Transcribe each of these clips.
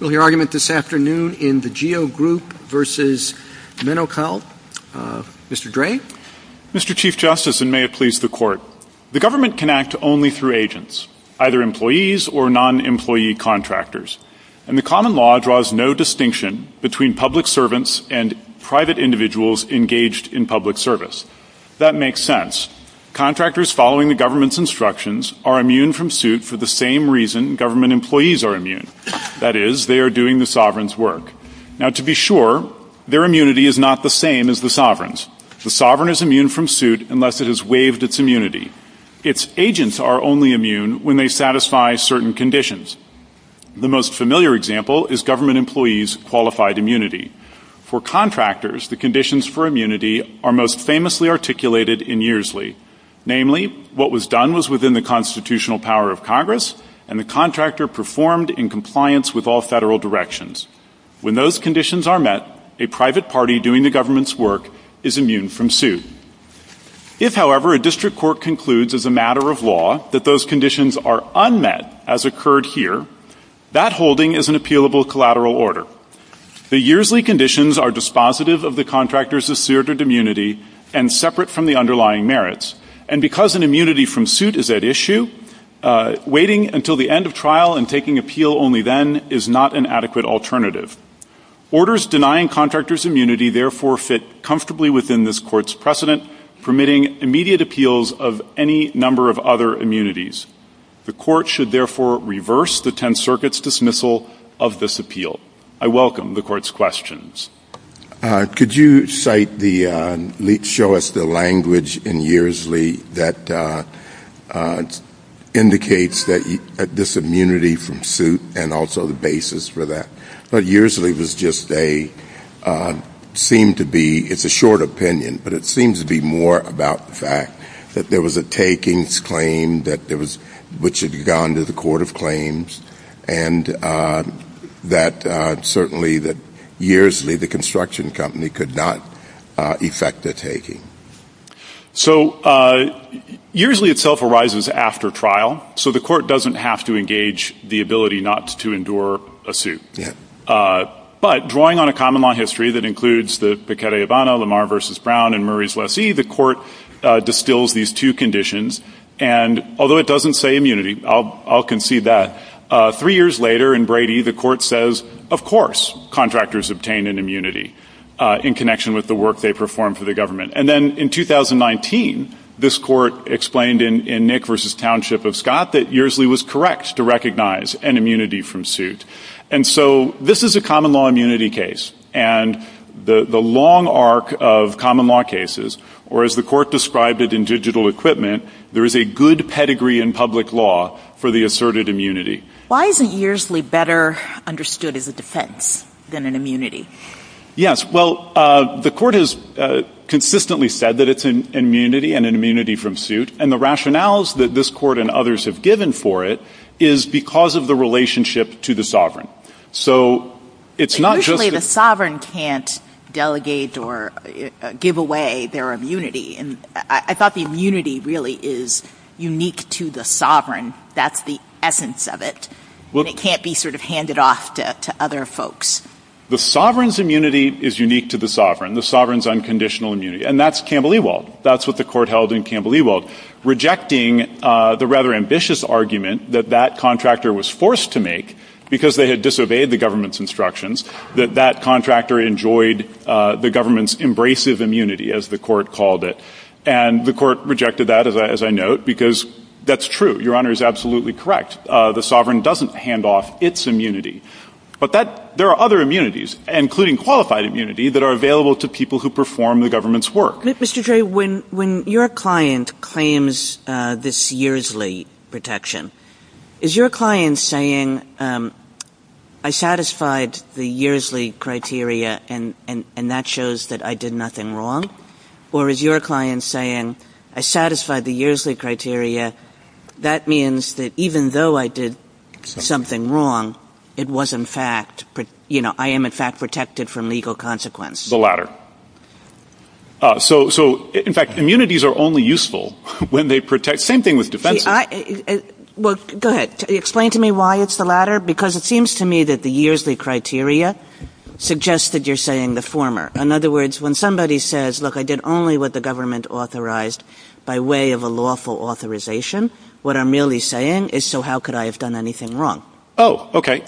We'll hear argument this afternoon in the GEO Group v. Menocal. Mr. Dray. Mr. Chief Justice, and may it please the Court. The government can act only through agents, either employees or non-employee contractors, and the common law draws no distinction between public servants and private individuals engaged in public service. That makes sense. Contractors following the government's instructions are immune from suit for the same reason government employees are immune. That is, they are doing the sovereign's work. Now, to be sure, their immunity is not the same as the sovereign's. The sovereign is immune from suit unless it has waived its immunity. Its agents are only immune when they satisfy certain conditions. The most familiar example is government employees' qualified immunity. For contractors, the conditions for immunity are most famously articulated in Earsley. Namely, what was done was within the constitutional power of Congress, and the contractor performed in compliance with all federal directions. When those conditions are met, a private party doing the government's work is immune from suit. If, however, a district court concludes as a matter of law that those conditions are unmet, as occurred here, that holding is an appealable collateral order. The Earsley conditions are dispositive of the contractor's asserted immunity and separate from the underlying merits. And because an immunity from suit is at issue, waiting until the end of trial and taking appeal only then is not an adequate alternative. Orders denying contractors immunity therefore fit comfortably within this court's precedent, permitting immediate appeals of any number of other immunities. The court should therefore reverse the Tenth Circuit's dismissal of this appeal. I welcome the court's questions. Could you cite the – show us the language in Earsley that indicates this immunity from suit and also the basis for that? But Earsley was just a – seemed to be – it's a short opinion, but it seems to be more about the fact that there was a takings claim that there was – which had gone to the court of claims, and that certainly that Earsley, the construction company, could not effect a taking. So Earsley itself arises after trial, so the court doesn't have to engage the ability not to endure a suit. Yeah. But drawing on a common law history that includes the Pecata-Yabana, Lamar v. Brown, and Murray's Lessee, the court distills these two conditions. And although it doesn't say immunity, I'll concede that, three years later in Brady, the court says, of course, contractors obtain an immunity in connection with the work they perform for the government. And then in 2019, this court explained in Nick v. Township of Scott that Earsley was correct to recognize an immunity from suit. And so this is a common law immunity case, and the long arc of common law cases, or as the court described it in digital equipment, there is a good pedigree in public law for the asserted immunity. Why isn't Earsley better understood as a defense than an immunity? Yes. Well, the court has consistently said that it's an immunity and an immunity from suit. And the rationales that this court and others have given for it is because of the relationship to the sovereign. So it's not just a — But usually the sovereign can't delegate or give away their immunity. And I thought the immunity really is unique to the sovereign. That's the essence of it. And it can't be sort of handed off to other folks. The sovereign's immunity is unique to the sovereign, the sovereign's unconditional immunity. And that's Campbell Ewald. That's what the court held in Campbell Ewald, rejecting the rather ambitious argument that that contractor was forced to make because they had disobeyed the government's instructions, that that contractor enjoyed the government's embracive immunity, as the court called it. And the court rejected that, as I note, because that's true. Your Honor is absolutely correct. The sovereign doesn't hand off its immunity. But that — there are other immunities, including qualified immunity, that are available to people who perform the government's work. Mr. Dre, when your client claims this yearsly protection, is your client saying, I satisfied the yearsly criteria and that shows that I did nothing wrong? Or is your client saying, I satisfied the yearsly criteria, that means that even though I did something wrong, it was, in fact — you know, I am, in fact, protected from legal consequence? The latter. So, in fact, immunities are only useful when they protect — same thing with defenses. Well, go ahead. Explain to me why it's the latter, because it seems to me that the yearsly criteria suggests that you're saying the former. In other words, when somebody says, look, I did only what the government authorized by way of a lawful authorization, what I'm really saying is, so how could I have done anything wrong? Oh, okay.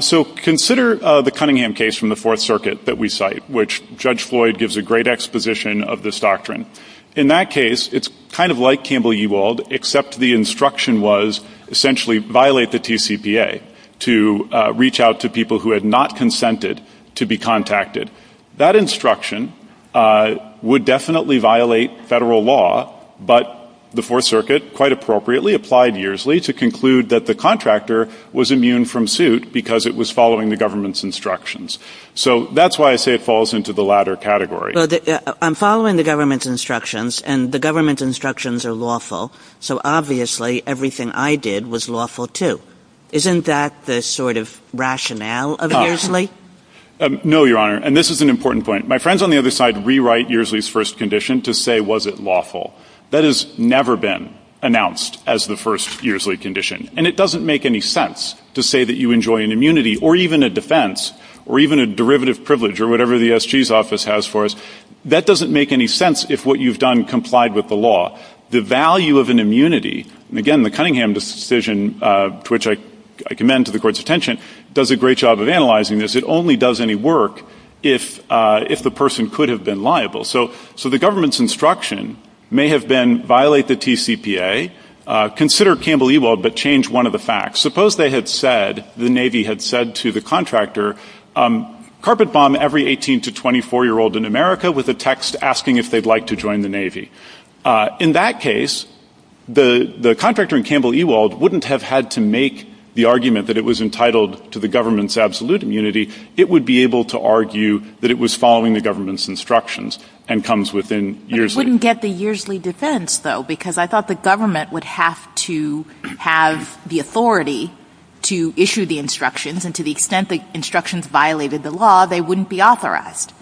So consider the Cunningham case from the Fourth Circuit that we cite, which Judge Floyd gives a great exposition of this doctrine. In that case, it's kind of like Campbell-Ewald, except the instruction was essentially violate the TCPA to reach out to people who had not consented to be contacted. That instruction would definitely violate federal law, but the Fourth Circuit, quite appropriately, applied yearsly to conclude that the contractor was immune from suit because it was following the government's instructions. So that's why I say it falls into the latter category. I'm following the government's instructions, and the government's instructions are lawful, so obviously everything I did was lawful, too. Isn't that the sort of rationale of yearsly? No, Your Honor, and this is an important point. My friends on the other side rewrite yearsly's first condition to say was it lawful. That has never been announced as the first yearsly condition, and it doesn't make any sense to say that you enjoy an immunity or even a defense or even a derivative privilege or whatever the SG's office has for us. That doesn't make any sense if what you've done complied with the law. The value of an immunity, and again the Cunningham decision to which I commend to the Court's attention, does a great job of analyzing this. It only does any work if the person could have been liable. So the government's instruction may have been violate the TCPA, consider Campbell Ewald, but change one of the facts. Suppose they had said, the Navy had said to the contractor, carpet bomb every 18 to 24-year-old in America with a text asking if they'd like to join the Navy. In that case, the contractor in Campbell Ewald wouldn't have had to make the argument that it was entitled to the government's absolute immunity. It would be able to argue that it was following the government's instructions and comes within years. But it wouldn't get the yearsly defense, though, because I thought the government would have to have the authority to issue the instructions, and to the extent the instructions violated the law, they wouldn't be authorized.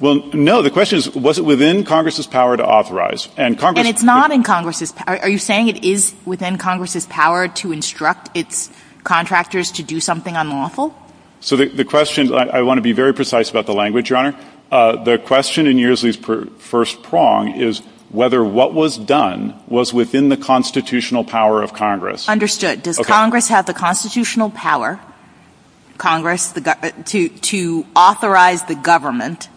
Well, no. The question is, was it within Congress's power to authorize? And Congress — And it's not in Congress's — are you saying it is within Congress's power to instruct its contractors to do something unlawful? So the question — I want to be very precise about the language, Your Honor. The question in yearsly's first prong is whether what was done was within the constitutional power of Congress. Understood. Does Congress have the constitutional power, Congress, to authorize the government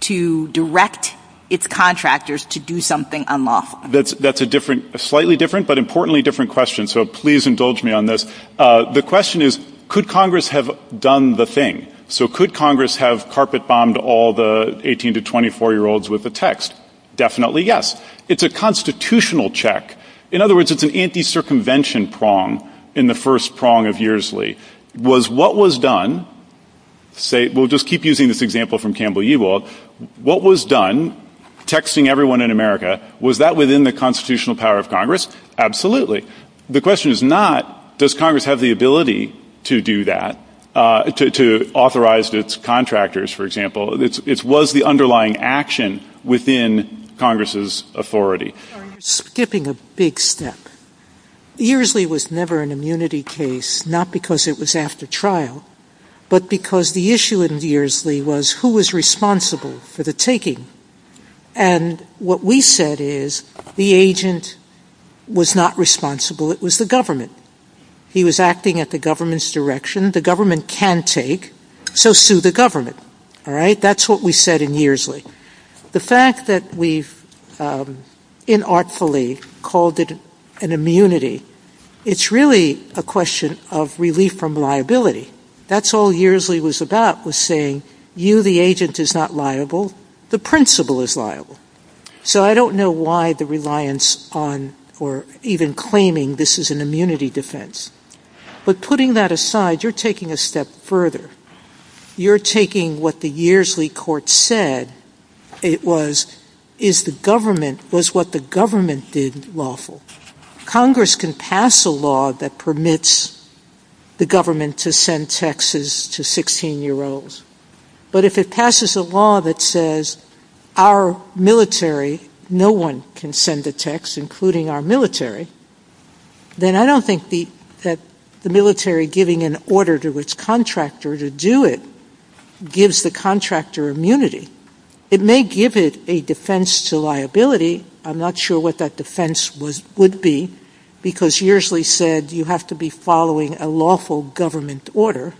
to direct its contractors to do something unlawful? That's a different — a slightly different, but importantly different question, so please indulge me on this. The question is, could Congress have done the thing? So could Congress have carpet-bombed all the 18- to 24-year-olds with a text? Definitely yes. It's a constitutional check. In other words, it's an anti-circumvention prong in the first prong of yearsly. Was what was done — we'll just keep using this example from Campbell-Yewald. What was done, texting everyone in America, was that within the constitutional power of Congress? Absolutely. The question is not, does Congress have the ability to do that, to authorize its contractors, for example. It was the underlying action within Congress's authority. You're skipping a big step. Yearsly was never an immunity case, not because it was after trial, but because the issue in Yearsly was who was responsible for the taking. And what we said is the agent was not responsible, it was the government. He was acting at the government's direction. The government can take, so sue the government. All right? That's what we said in Yearsly. The fact that we've inartfully called it an immunity, it's really a question of relief from liability. That's all Yearsly was about, was saying, you, the agent, is not liable, the principal is liable. So I don't know why the reliance on or even claiming this is an immunity defense. But putting that aside, you're taking a step further. You're taking what the Yearsly court said, it was, is the government, was what the government did lawful. Congress can pass a law that permits the government to send texts to 16-year-olds. But if it passes a law that says our military, no one can send a text, including our military, then I don't think that the military giving an order to its contractor to do it gives the contractor immunity. It may give it a defense to liability. I'm not sure what that defense would be, because Yearsly said you have to be following a lawful government order.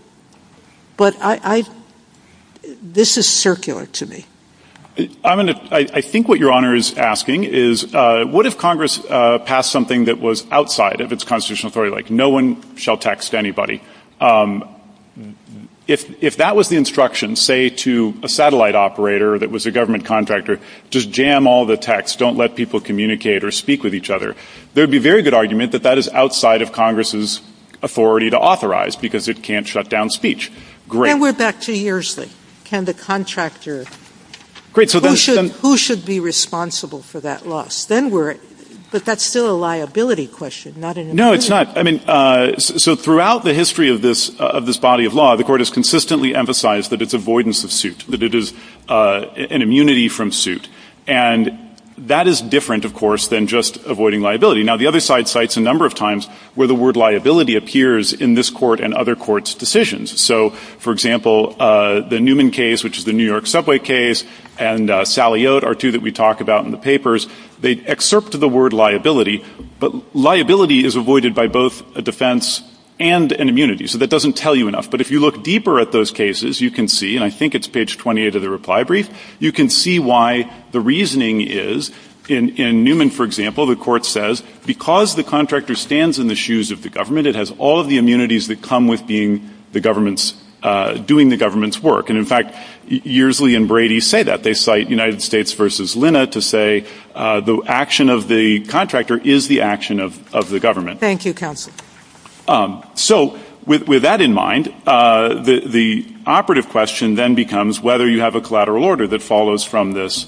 But I, this is circular to me. I think what Your Honor is asking is, what if Congress passed something that was outside of its constitutional authority, like no one shall text anybody? If that was the instruction, say, to a satellite operator that was a government contractor, just jam all the texts, don't let people communicate or speak with each other, there would be a very good argument that that is outside of Congress's authority to authorize, because it can't shut down speech. Great. And we're back to Yearsly. Can the contractor, who should be responsible for that loss? But that's still a liability question, not an immunity. No, it's not. I mean, so throughout the history of this body of law, the Court has consistently emphasized that it's avoidance of suit, that it is an immunity from suit. And that is different, of course, than just avoiding liability. Now, the other side cites a number of times where the word liability appears in this Court and other Courts' decisions. So, for example, the Newman case, which is the New York subway case, and Sally Oat are two that we talk about in the papers. They excerpt the word liability, but liability is avoided by both a defense and an immunity. So that doesn't tell you enough. But if you look deeper at those cases, you can see, and I think it's page 28 of the reply brief, you can see why the reasoning is, in Newman, for example, the Court says, because the contractor stands in the shoes of the government, it has all of the immunities that come with being the government's, doing the government's work. And, in fact, Yearsley and Brady say that. They cite United States v. Linna to say the action of the contractor is the action of the government. Thank you, counsel. So, with that in mind, the operative question then becomes whether you have a collateral order that follows from this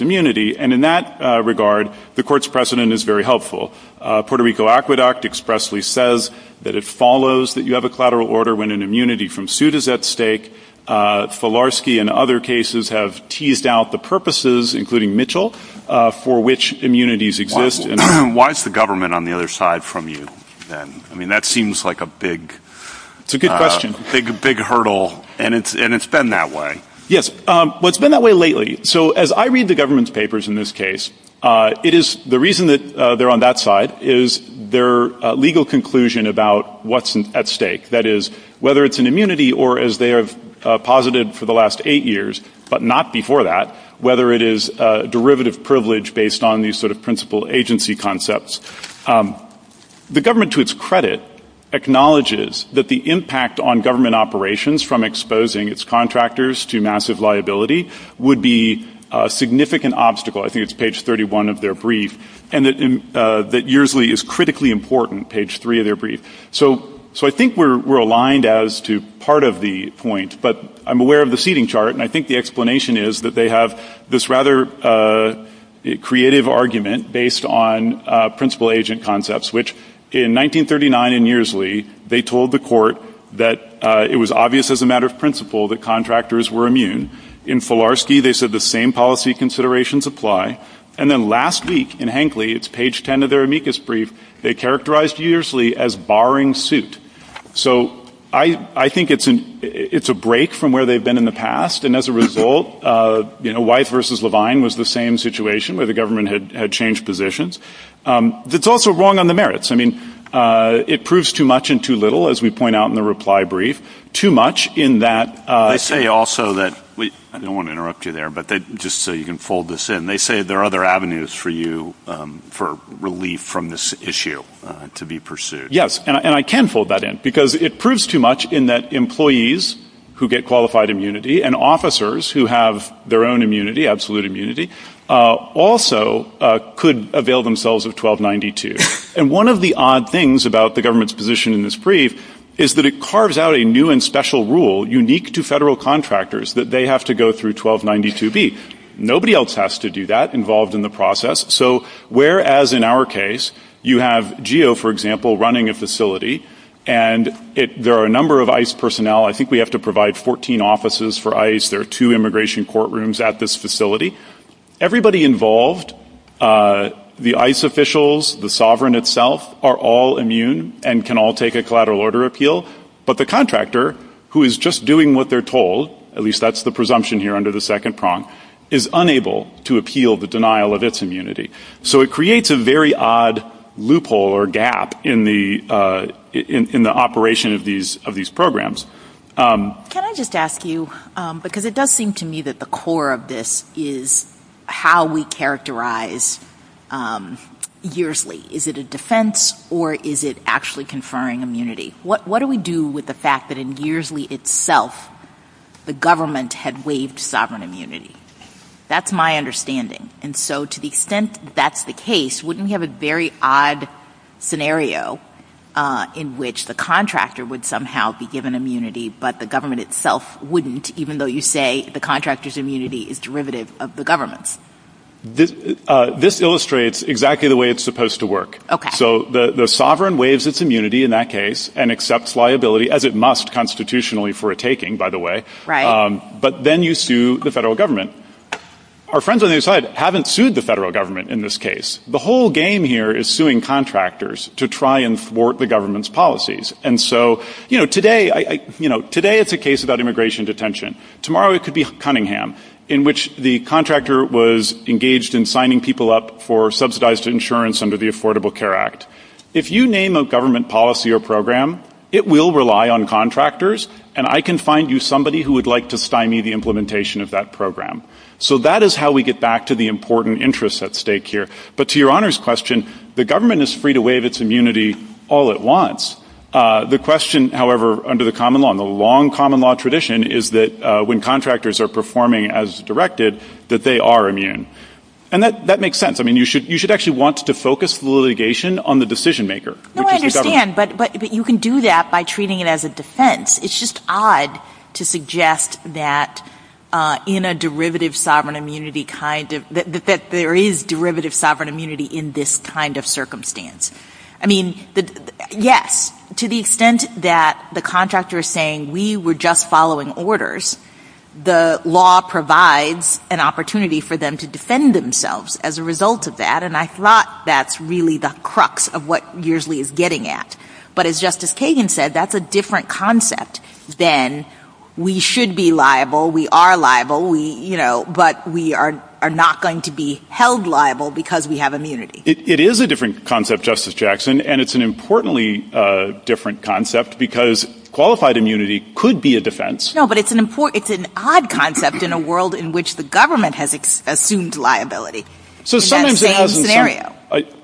immunity. And in that regard, the Court's precedent is very helpful. Puerto Rico Aqueduct expressly says that it follows that you have a collateral order when an immunity from suit is at stake. Falarsky and other cases have teased out the purposes, including Mitchell, for which immunities exist. Why is the government on the other side from you then? I mean, that seems like a big hurdle, and it's been that way. Yes. Well, it's been that way lately. So, as I read the government's papers in this case, the reason that they're on that side is their legal conclusion about what's at stake. That is, whether it's an immunity or, as they have posited for the last eight years, but not before that, whether it is derivative privilege based on these sort of principal agency concepts. The government, to its credit, acknowledges that the impact on government operations, from exposing its contractors to massive liability, would be a significant obstacle. I think it's page 31 of their brief, and that Yearsley is critically important, page 3 of their brief. So, I think we're aligned as to part of the point, but I'm aware of the seating chart, and I think the explanation is that they have this rather creative argument based on principal agent concepts, which, in 1939 in Yearsley, they told the court that it was obvious as a matter of principle that contractors were immune. In Filarski, they said the same policy considerations apply. And then last week, in Hankley, it's page 10 of their amicus brief, they characterized Yearsley as barring suit. So, I think it's a break from where they've been in the past, and as a result, Wythe versus Levine was the same situation where the government had changed positions. It's also wrong on the merits. I mean, it proves too much and too little, as we point out in the reply brief. Too much in that... They say also that, I don't want to interrupt you there, but just so you can fold this in, they say there are other avenues for you for relief from this issue to be pursued. Yes, and I can fold that in, because it proves too much in that employees who get qualified immunity and officers who have their own immunity, absolute immunity, also could avail themselves of 1292. And one of the odd things about the government's position in this brief is that it carves out a new and special rule unique to federal contractors that they have to go through 1292B. Nobody else has to do that involved in the process. So, whereas in our case, you have GEO, for example, running a facility, and there are a number of ICE personnel. I think we have to provide 14 offices for ICE. There are two immigration courtrooms at this facility. Everybody involved, the ICE officials, the sovereign itself, are all immune and can all take a collateral order appeal, but the contractor, who is just doing what they're told, at least that's the presumption here under the second prong, is unable to appeal the denial of its immunity. So it creates a very odd loophole or gap in the operation of these programs. Can I just ask you, because it does seem to me that the core of this is how we characterize YEARSLY. Is it a defense or is it actually conferring immunity? What do we do with the fact that in YEARSLY itself the government had waived sovereign immunity? That's my understanding. And so to the extent that's the case, wouldn't we have a very odd scenario in which the contractor would somehow be given immunity but the government itself wouldn't, even though you say the contractor's immunity is derivative of the government's? This illustrates exactly the way it's supposed to work. So the sovereign waives its immunity in that case and accepts liability, as it must constitutionally for a taking, by the way, but then you sue the federal government. Our friends on the other side haven't sued the federal government in this case. The whole game here is suing contractors to try and thwart the government's policies. And so today it's a case about immigration detention. Tomorrow it could be Cunningham, in which the contractor was engaged in signing people up for subsidized insurance under the Affordable Care Act. If you name a government policy or program, it will rely on contractors, and I can find you somebody who would like to stymie the implementation of that program. So that is how we get back to the important interests at stake here. But to Your Honor's question, the government is free to waive its immunity all at once. The question, however, under the common law and the long common law tradition, is that when contractors are performing as directed, that they are immune. And that makes sense. I mean, you should actually want to focus litigation on the decision maker, which is the government. No, I understand. But you can do that by treating it as a defense. It's just odd to suggest that in a derivative sovereign immunity kind of – that there is derivative sovereign immunity in this kind of circumstance. I mean, yes, to the extent that the contractor is saying we were just following orders, the law provides an opportunity for them to defend themselves as a result of that, and I thought that's really the crux of what Yearsley is getting at. But as Justice Kagan said, that's a different concept than we should be liable, we are liable, but we are not going to be held liable because we have immunity. It is a different concept, Justice Jackson, and it's an importantly different concept because qualified immunity could be a defense. No, but it's an odd concept in a world in which the government has assumed liability in that same scenario.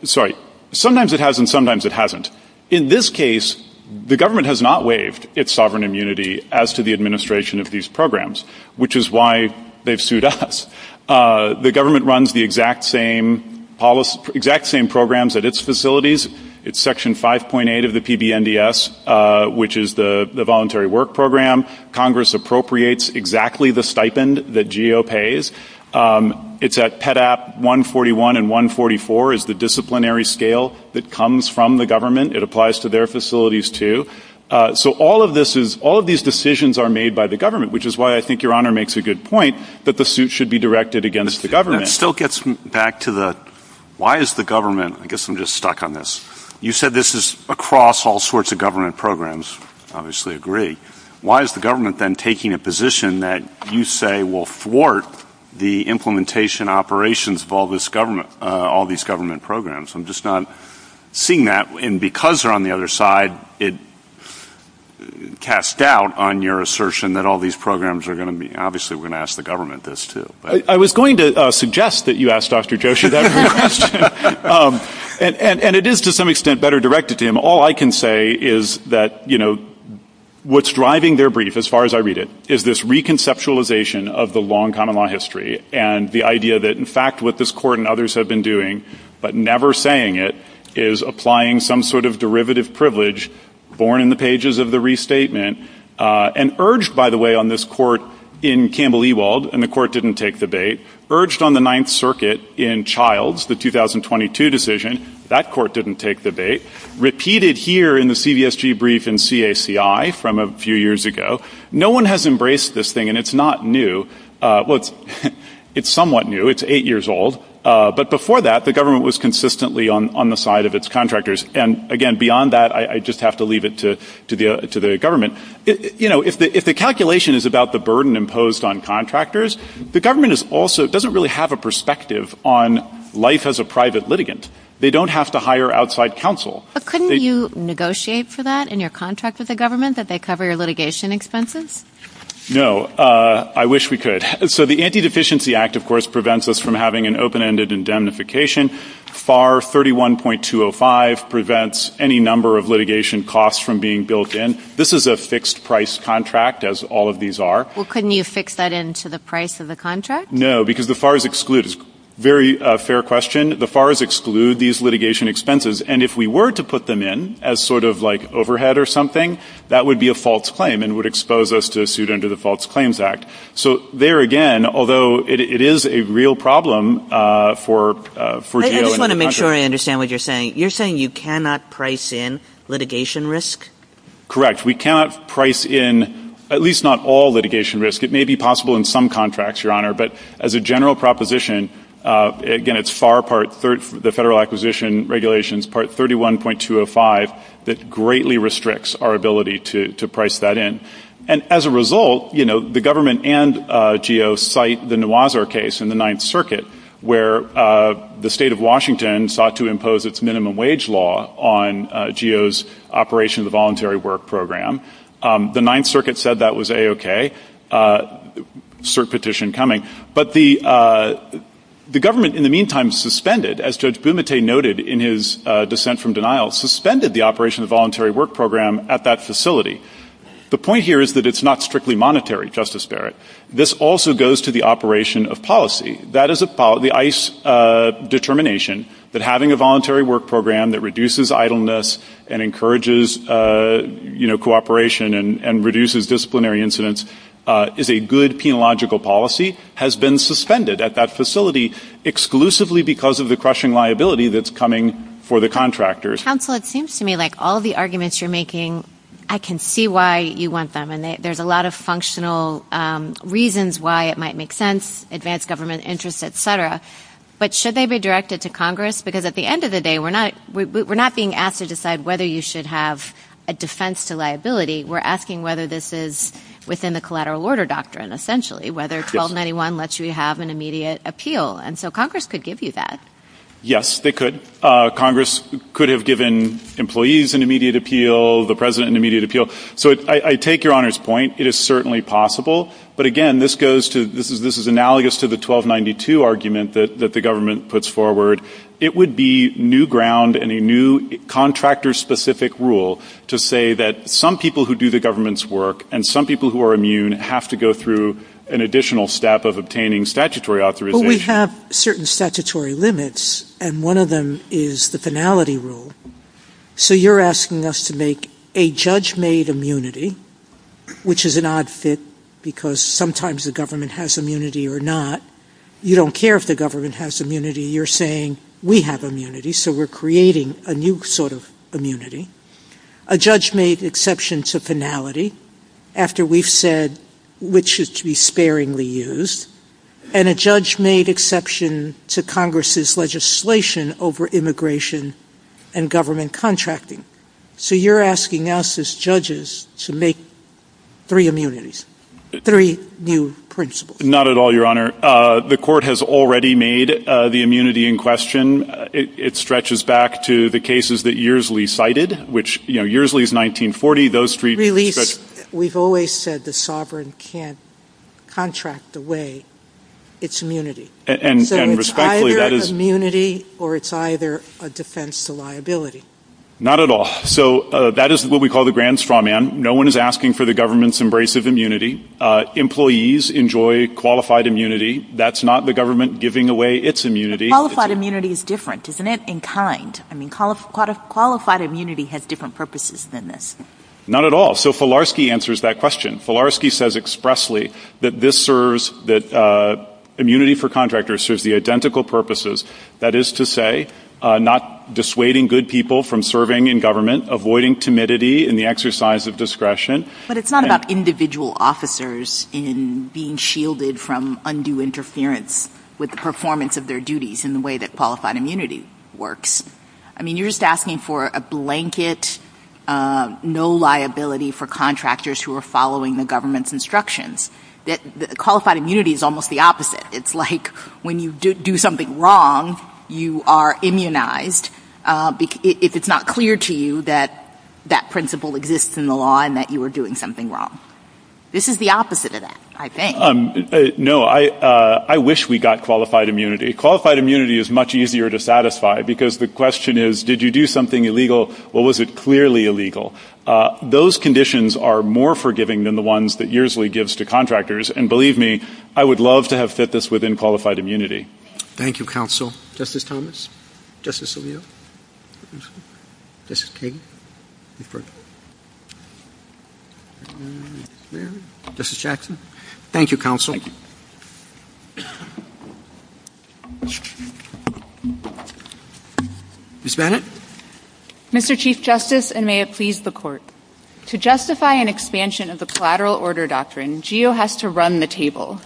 Sorry. Sometimes it has and sometimes it hasn't. In this case, the government has not waived its sovereign immunity as to the administration of these programs, which is why they've sued us. The government runs the exact same programs at its facilities. It's Section 5.8 of the PBNDS, which is the Voluntary Work Program. Congress appropriates exactly the stipend that GO pays. It's at PEDAP 141 and 144 is the disciplinary scale that comes from the government. It applies to their facilities too. So all of these decisions are made by the government, which is why I think Your Honor makes a good point that the suit should be directed against the government. That still gets back to the why is the government ‑‑ I guess I'm just stuck on this. You said this is across all sorts of government programs. I obviously agree. Why is the government then taking a position that you say will thwart the implementation operations of all these government programs? I'm just not seeing that. And because they're on the other side, it casts doubt on your assertion that all these programs are going to be ‑‑ obviously we're going to ask the government this too. I was going to suggest that you ask Dr. Joshi that question. And it is to some extent better directed to him. All I can say is that, you know, what's driving their brief, as far as I read it, is this reconceptualization of the long common law history and the idea that, in fact, what this Court and others have been doing, but never saying it, is applying some sort of derivative privilege born in the pages of the restatement and urged, by the way, on this Court in Campbell Ewald, and the Court didn't take the bait, urged on the Ninth Circuit in Childs, the 2022 decision, that Court didn't take the bait, repeated here in the CVSG brief in CACI from a few years ago. No one has embraced this thing, and it's not new. Well, it's somewhat new. It's eight years old. But before that, the government was consistently on the side of its contractors. And, again, beyond that, I just have to leave it to the government. You know, if the calculation is about the burden imposed on contractors, the government also doesn't really have a perspective on life as a private litigant. They don't have to hire outside counsel. But couldn't you negotiate for that in your contract with the government, that they cover your litigation expenses? No. I wish we could. So the Anti-Deficiency Act, of course, prevents us from having an open-ended indemnification. FAR 31.205 prevents any number of litigation costs from being built in. This is a fixed-price contract, as all of these are. Well, couldn't you fix that into the price of the contract? No, because the FARs exclude. It's a very fair question. The FARs exclude these litigation expenses. And if we were to put them in as sort of like overhead or something, that would be a false claim and would expose us to a suit under the False Claims Act. So, there again, although it is a real problem for jail and contract. I just want to make sure I understand what you're saying. You're saying you cannot price in litigation risk? Correct. We cannot price in at least not all litigation risk. It may be possible in some contracts, Your Honor. But as a general proposition, again, it's FAR Part 3, the Federal Acquisition Regulations, Part 31.205, that greatly restricts our ability to price that in. And as a result, you know, the government and GEO cite the Nawazar case in the Ninth Circuit where the State of Washington sought to impose its minimum wage law on GEO's Operation of the Voluntary Work Program. The Ninth Circuit said that was A-OK, cert petition coming. But the government in the meantime suspended, as Judge Bumate noted in his dissent from denial, suspended the Operation of the Voluntary Work Program at that facility. The point here is that it's not strictly monetary, Justice Barrett. This also goes to the operation of policy. That is the ICE determination, that having a voluntary work program that reduces idleness and encourages, you know, cooperation and reduces disciplinary incidents is a good penological policy, has been suspended at that facility exclusively because of the crushing liability that's coming for the contractors. Counsel, it seems to me like all the arguments you're making, I can see why you want them. And there's a lot of functional reasons why it might make sense, advanced government interest, et cetera. But should they be directed to Congress? Because at the end of the day, we're not being asked to decide whether you should have a defense to liability. We're asking whether this is within the collateral order doctrine, essentially, whether 1291 lets you have an immediate appeal. And so Congress could give you that. Yes, they could. Congress could have given employees an immediate appeal, the president an immediate appeal. So I take Your Honor's point. It is certainly possible. But again, this goes to, this is analogous to the 1292 argument that the government puts forward. It would be new ground and a new contractor-specific rule to say that some people who do the government's work and some people who are immune have to go through an additional step of obtaining statutory authorization. But we have certain statutory limits, and one of them is the finality rule. So you're asking us to make a judge-made immunity, which is an odd fit because sometimes the government has immunity or not. You don't care if the government has immunity. You're saying we have immunity, so we're creating a new sort of immunity. A judge-made exception to finality, after we've said which should be sparingly used. And a judge-made exception to Congress's legislation over immigration and government contracting. So you're asking us as judges to make three immunities, three new principles. Not at all, Your Honor. The court has already made the immunity in question. It stretches back to the cases that Yearsley cited, which, you know, Yearsley is 1940. We've always said the sovereign can't contract away its immunity. So it's either immunity or it's either a defense to liability. Not at all. So that is what we call the grand strawman. No one is asking for the government's embrace of immunity. Employees enjoy qualified immunity. That's not the government giving away its immunity. Qualified immunity is different, isn't it, in kind? Qualified immunity has different purposes than this. Not at all. So Filarski answers that question. Filarski says expressly that this serves, that immunity for contractors serves the identical purposes. That is to say, not dissuading good people from serving in government, avoiding timidity in the exercise of discretion. But it's not about individual officers in being shielded from undue interference with the performance of their duties in the way that qualified immunity works. I mean, you're just asking for a blanket no liability for contractors who are following the government's instructions. Qualified immunity is almost the opposite. It's like when you do something wrong, you are immunized if it's not clear to you that that principle exists in the law and that you are doing something wrong. This is the opposite of that, I think. No, I wish we got qualified immunity. Qualified immunity is much easier to satisfy because the question is, did you do something illegal or was it clearly illegal? Those conditions are more forgiving than the ones that Yersley gives to contractors. And believe me, I would love to have fit this within qualified immunity. Thank you, counsel. Justice Thomas. Justice Alito. Justice Kagan. Justice Jackson. Thank you, counsel. Thank you. Ms. Bennett. Mr. Chief Justice, and may it please the Court. To justify an expansion of the collateral order doctrine, GEO has to run the table.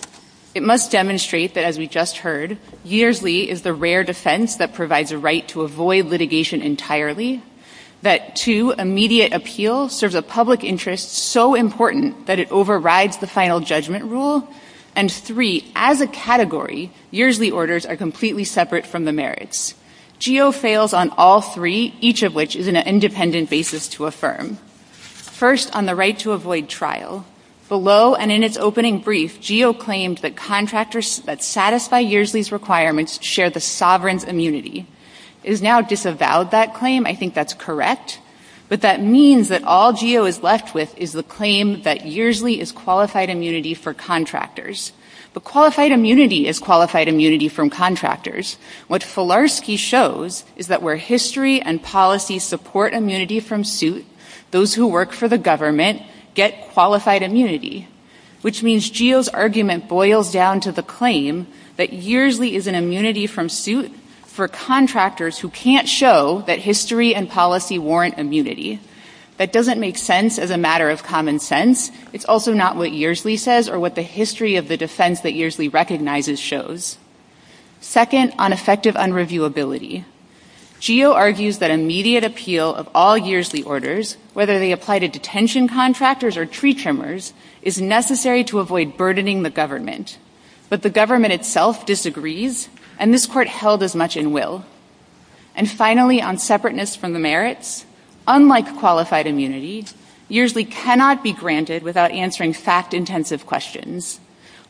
It must demonstrate that, as we just heard, Yersley is the rare defense that provides a right to avoid litigation entirely. That, two, immediate appeal serves a public interest so important that it overrides the final judgment rule. And, three, as a category, Yersley orders are completely separate from the merits. GEO fails on all three, each of which is an independent basis to affirm. First, on the right to avoid trial. Below and in its opening brief, GEO claimed that contractors that satisfy Yersley's requirements share the sovereign's immunity. It is now disavowed, that claim. I think that's correct. But that means that all GEO is left with is the claim that Yersley is qualified immunity for contractors. But qualified immunity is qualified immunity from contractors. What Filarski shows is that where history and policy support immunity from suit, those who work for the government get qualified immunity. Which means GEO's argument boils down to the claim that Yersley is an immunity from suit for contractors who can't show that history and policy warrant immunity. That doesn't make sense as a matter of common sense. It's also not what Yersley says or what the history of the defense that Yersley recognizes shows. Second, on effective unreviewability. GEO argues that immediate appeal of all Yersley orders, whether they apply to detention contractors or tree trimmers, is necessary to avoid burdening the government. But the government itself disagrees, and this Court held as much in will. And finally, on separateness from the merits. Unlike qualified immunity, Yersley cannot be granted without answering fact-intensive questions.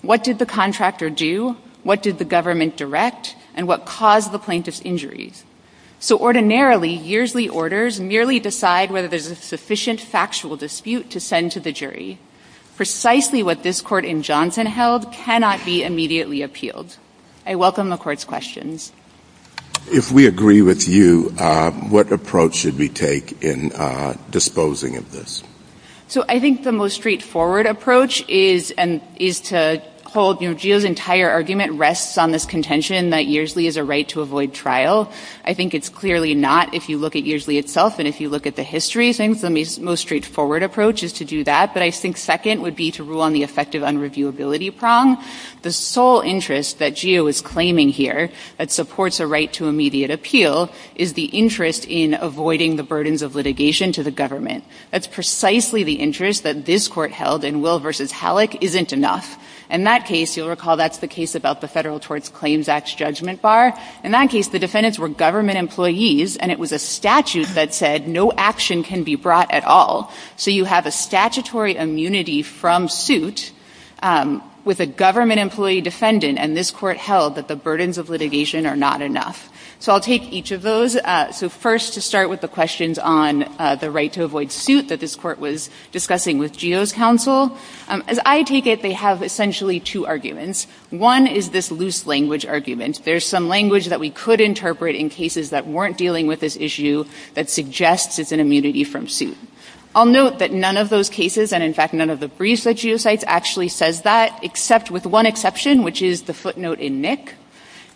What did the contractor do? What did the government direct? And what caused the plaintiff's injuries? So ordinarily, Yersley orders merely decide whether there's a sufficient factual dispute to send to the jury. Precisely what this Court in Johnson held cannot be immediately appealed. I welcome the Court's questions. If we agree with you, what approach should we take in disposing of this? So I think the most straightforward approach is to hold, you know, GEO's entire argument rests on this contention that Yersley is a right-to-avoid trial. I think it's clearly not. If you look at Yersley itself and if you look at the history, I think the most straightforward approach is to do that. But I think second would be to rule on the effective unreviewability prong. The sole interest that GEO is claiming here that supports a right to immediate appeal is the interest in avoiding the burdens of litigation to the government. That's precisely the interest that this Court held in Will v. Halleck isn't enough. In that case, you'll recall that's the case about the Federal Torts Claims Act's judgment bar. In that case, the defendants were government employees and it was a statute that said no action can be brought at all. So you have a statutory immunity from suit with a government employee defendant and this Court held that the burdens of litigation are not enough. So I'll take each of those. So first to start with the questions on the right to avoid suit that this Court was discussing with GEO's counsel. As I take it, they have essentially two arguments. One is this loose language argument. There's some language that we could interpret in cases that weren't dealing with this issue that suggests it's an immunity from suit. I'll note that none of those cases and, in fact, none of the briefs that GEO cites actually says that, except with one exception, which is the footnote in Nick.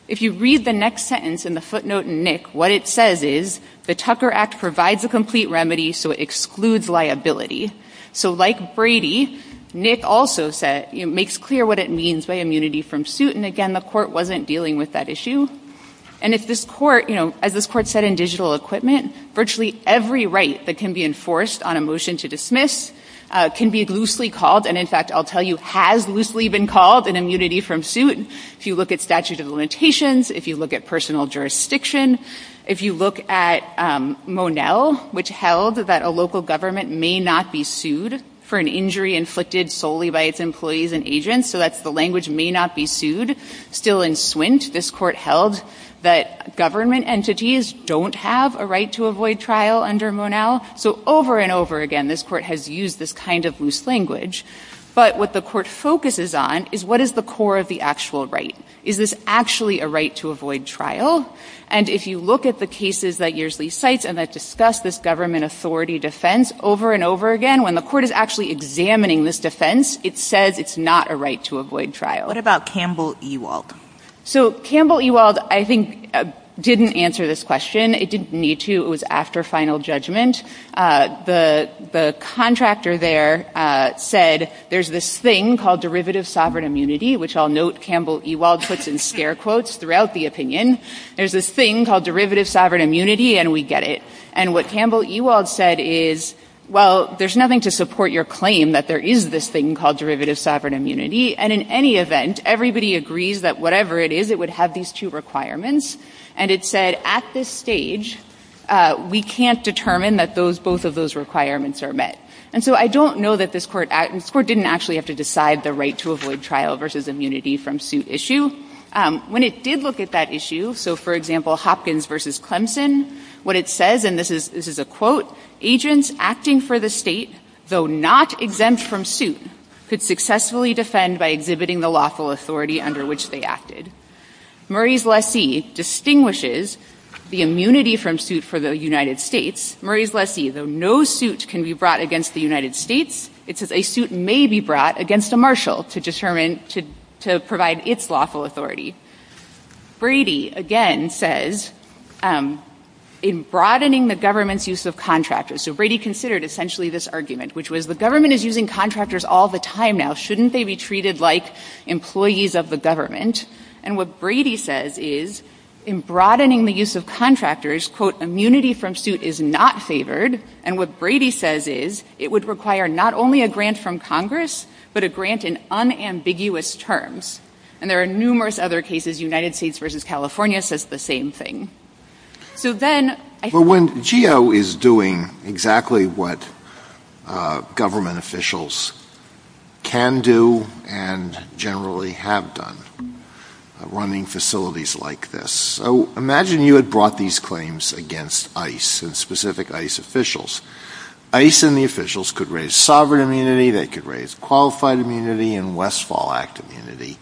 If you read the next sentence in the footnote in Nick, what it says is the Tucker Act provides a complete remedy so it excludes liability. So like Brady, Nick also makes clear what it means by immunity from suit. And, again, the Court wasn't dealing with that issue. And if this Court, you know, as this Court said in Digital Equipment, virtually every right that can be enforced on a motion to dismiss can be loosely called. And, in fact, I'll tell you has loosely been called an immunity from suit. If you look at statute of limitations, if you look at personal jurisdiction, if you look at Monell, which held that a local government may not be sued for an injury inflicted solely by its employees and agents. So that's the language may not be sued. Still in Swint, this Court held that government entities don't have a right to avoid trial under Monell. So over and over again, this Court has used this kind of loose language. But what the Court focuses on is what is the core of the actual right? Is this actually a right to avoid trial? And if you look at the cases that Earsley cites and that discuss this government authority defense, over and over again, when the Court is actually examining this defense, it says it's not a right to avoid trial. What about Campbell-Ewald? So Campbell-Ewald, I think, didn't answer this question. It didn't need to. It was after final judgment. The contractor there said, there's this thing called derivative sovereign immunity, which I'll note Campbell-Ewald puts in scare quotes throughout the opinion. There's this thing called derivative sovereign immunity, and we get it. And what Campbell-Ewald said is, well, there's nothing to support your claim that there is this thing called derivative sovereign immunity. And in any event, everybody agrees that whatever it is, it would have these two requirements. And it said, at this stage, we can't determine that those, both of those requirements are met. And so I don't know that this Court, this Court didn't actually have to decide the right to avoid trial versus immunity from suit issue. When it did look at that issue, so for example, Hopkins v. Clemson, what it says, and this is a quote, agents acting for the state, though not exempt from suit, could successfully defend by exhibiting the lawful authority under which they acted. Murray's lessee distinguishes the immunity from suit for the United States. Murray's lessee, though no suit can be brought against the United States, it says a suit may be brought against a marshal to determine, to provide its lawful authority. Brady, again, says, in broadening the government's use of contractors, so Brady considered essentially this argument, which was the government is using contractors all the time now. Shouldn't they be treated like employees of the government? And what Brady says is, in broadening the use of contractors, quote, immunity from suit is not favored. And what Brady says is, it would require not only a grant from Congress, but a grant in unambiguous terms. And there are numerous other cases. United States v. California says the same thing. So then, I think. But GEO is doing exactly what government officials can do and generally have done, running facilities like this. So imagine you had brought these claims against ICE and specific ICE officials. ICE and the officials could raise sovereign immunity. They could raise qualified immunity and Westfall Act immunity.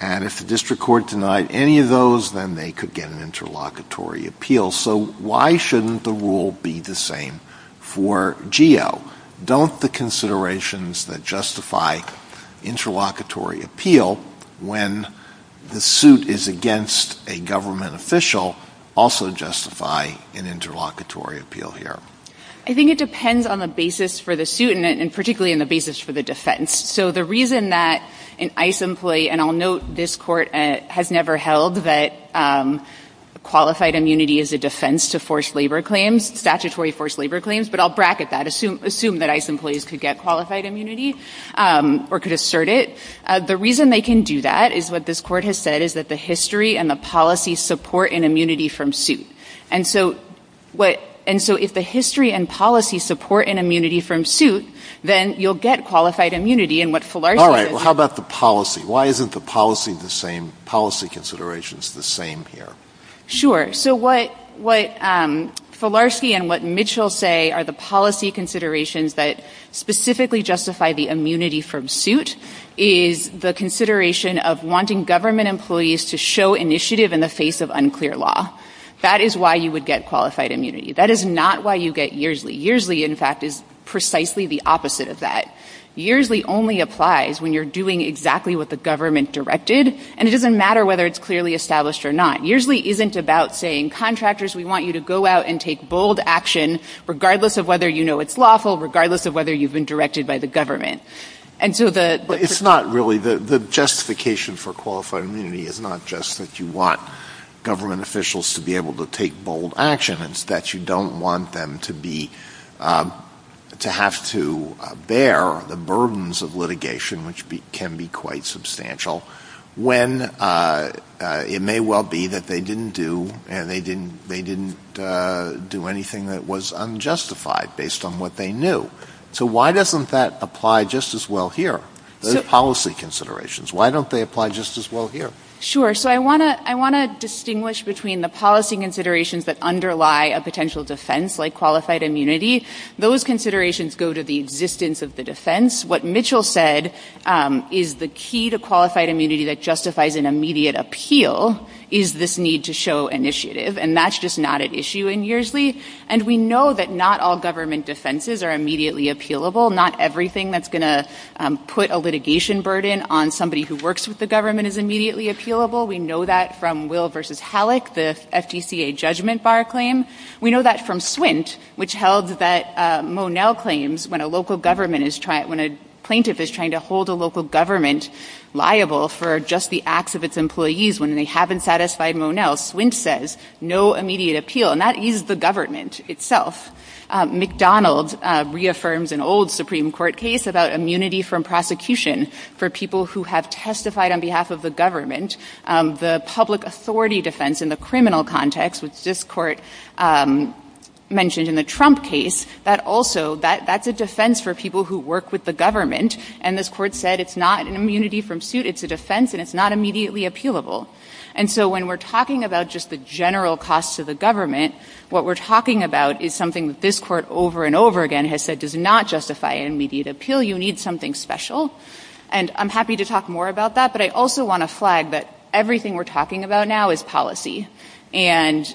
And if the district court denied any of those, then they could get an interlocutory appeal. So why shouldn't the rule be the same for GEO? Don't the considerations that justify interlocutory appeal when the suit is against a government official also justify an interlocutory appeal here? I think it depends on the basis for the suit and particularly on the basis for the defense. So the reason that an ICE employee, and I'll note this court has never held that qualified immunity is a defense to forced labor claims, statutory forced labor claims. But I'll bracket that. Assume that ICE employees could get qualified immunity or could assert it. The reason they can do that is what this court has said is that the history and the policy support an immunity from suit. And so if the history and policy support an immunity from suit, then you'll get qualified immunity. All right. How about the policy? Why isn't the policy the same, policy considerations the same here? Sure. So what Filarski and what Mitchell say are the policy considerations that specifically justify the immunity from suit is the consideration of wanting government employees to show initiative in the face of unclear law. That is why you would get qualified immunity. That is not why you get yearsly. Yearsly, in fact, is precisely the opposite of that. Yearsly only applies when you're doing exactly what the government directed, and it doesn't matter whether it's clearly established or not. Yearsly isn't about saying, contractors, we want you to go out and take bold action, regardless of whether you know it's lawful, regardless of whether you've been directed by the government. And so the ‑‑ Well, it's not really. The justification for qualified immunity is not just that you want government officials to be able to take bold action. It's that you don't want them to be ‑‑ to have to bear the burdens of litigation, which can be quite substantial, when it may well be that they didn't do, and they didn't do anything that was unjustified based on what they knew. So why doesn't that apply just as well here, those policy considerations? Why don't they apply just as well here? Sure. So I want to distinguish between the policy considerations that underlie a potential defense, like qualified immunity. Those considerations go to the existence of the defense. What Mitchell said is the key to qualified immunity that justifies an immediate appeal is this need to show initiative. And that's just not at issue in Yearsly. And we know that not all government defenses are immediately appealable. Not everything that's going to put a litigation burden on somebody who works with the government is immediately appealable. We know that from Will v. Halleck, the FTCA judgment bar claim. We know that from Swint, which held that Monel claims when a local government is ‑‑ when a plaintiff is trying to hold a local government liable for just the acts of its employees when they haven't satisfied Monel, Swint says no immediate appeal. And that is the government itself. McDonald reaffirms an old Supreme Court case about immunity from prosecution for people who have testified on behalf of the government. The public authority defense in the criminal context, which this Court mentioned in the Trump case, that also ‑‑ that's a defense for people who work with the government. And this Court said it's not an immunity from suit. It's a defense. And it's not immediately appealable. And so when we're talking about just the general cost to the government, what we're talking about is something that this Court over and over again has said does not justify an immediate appeal. You need something special. And I'm happy to talk more about that, but I also want to flag that everything we're talking about now is policy. And,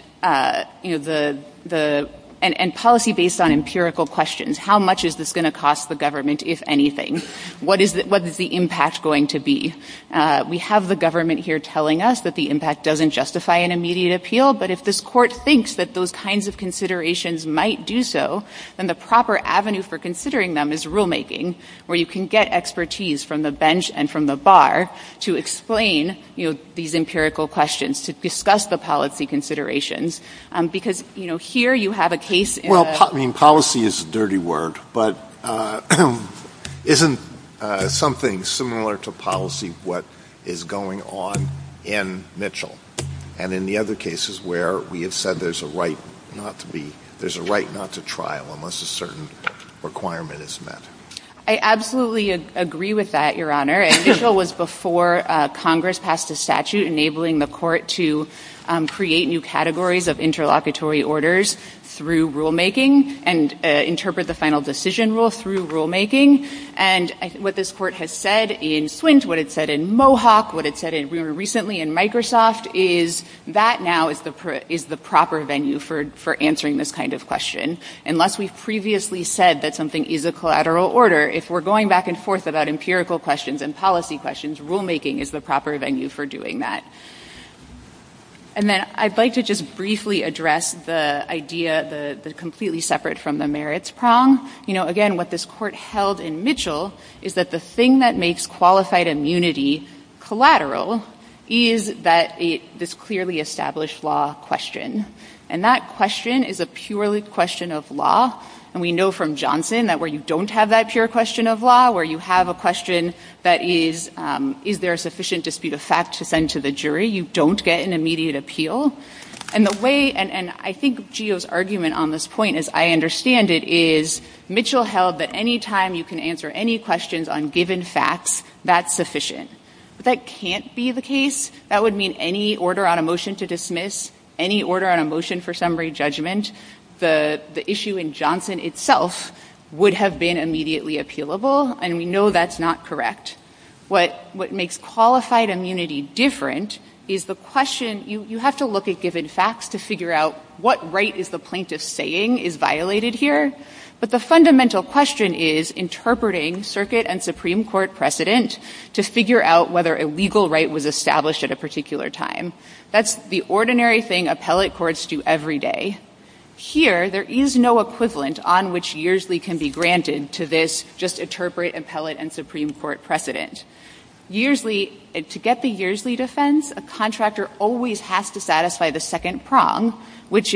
you know, the ‑‑ and policy based on empirical questions. How much is this going to cost the government, if anything? What is the impact going to be? We have the government here telling us that the impact doesn't justify an immediate appeal, but if this Court thinks that those kinds of considerations might do so, then the proper avenue for considering them is rulemaking, where you can get expertise from the bench and from the bar to explain, you know, these empirical questions, to discuss the policy considerations. Because, you know, here you have a case in a ‑‑ Well, I mean, policy is a dirty word, but isn't something similar to policy what is going on in Mitchell and in the other cases where we have said there's a right not to trial unless a certain requirement is met? I absolutely agree with that, Your Honor. And Mitchell was before Congress passed a statute enabling the Court to create new categories of interlocutory orders through rulemaking and interpret the final decision rule through rulemaking. And what this Court has said in Swint, what it said in Mohawk, what it said recently in Microsoft, is that now is the proper venue for answering this kind of question. Unless we've previously said that something is a collateral order, if we're going back and forth about empirical questions and policy questions, rulemaking is the proper venue for doing that. And then I'd like to just briefly address the idea, the completely separate from the merits prong. You know, again, what this Court held in Mitchell is that the thing that makes qualified immunity collateral is that this clearly established law question. And that question is a purely question of law. And we know from Johnson that where you don't have that pure question of law, where you have a question that is, is there a sufficient dispute of fact to send to the jury, you don't get an immediate appeal. And the way, and I think Geo's argument on this point, as I understand it, is Mitchell held that any time you can answer any questions on given facts, that's sufficient. But that can't be the case. That would mean any order on a motion to dismiss, any order on a motion for summary judgment, the issue in Johnson itself would have been immediately appealable. And we know that's not correct. What makes qualified immunity different is the question, you have to look at given facts to figure out what right is the plaintiff saying is violated here. But the fundamental question is interpreting circuit and Supreme Court precedent to figure out whether a legal right was established at a particular time. That's the ordinary thing appellate courts do every day. Here, there is no equivalent on which Yearsley can be granted to this just interpret appellate and Supreme Court precedent. Yearsley, to get the Yearsley defense, a contractor always has to satisfy the second universe of facts, which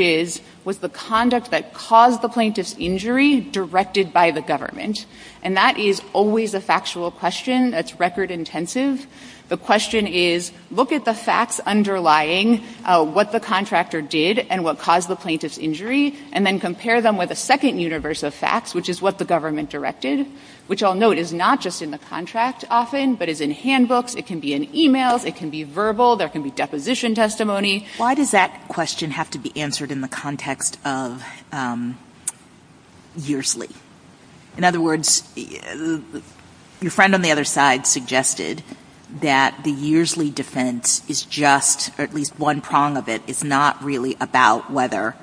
is what the government directed, which I'll note is not just in the contract often, but is in handbooks, it can be in e-mails, it can be verbal, there can be deposition testimony. Why does that question have to be answered in the context of Yearsley? In other words, your friend on the other side suggested that the Yearsley defense is just, or at least one prong of it, is not really about whether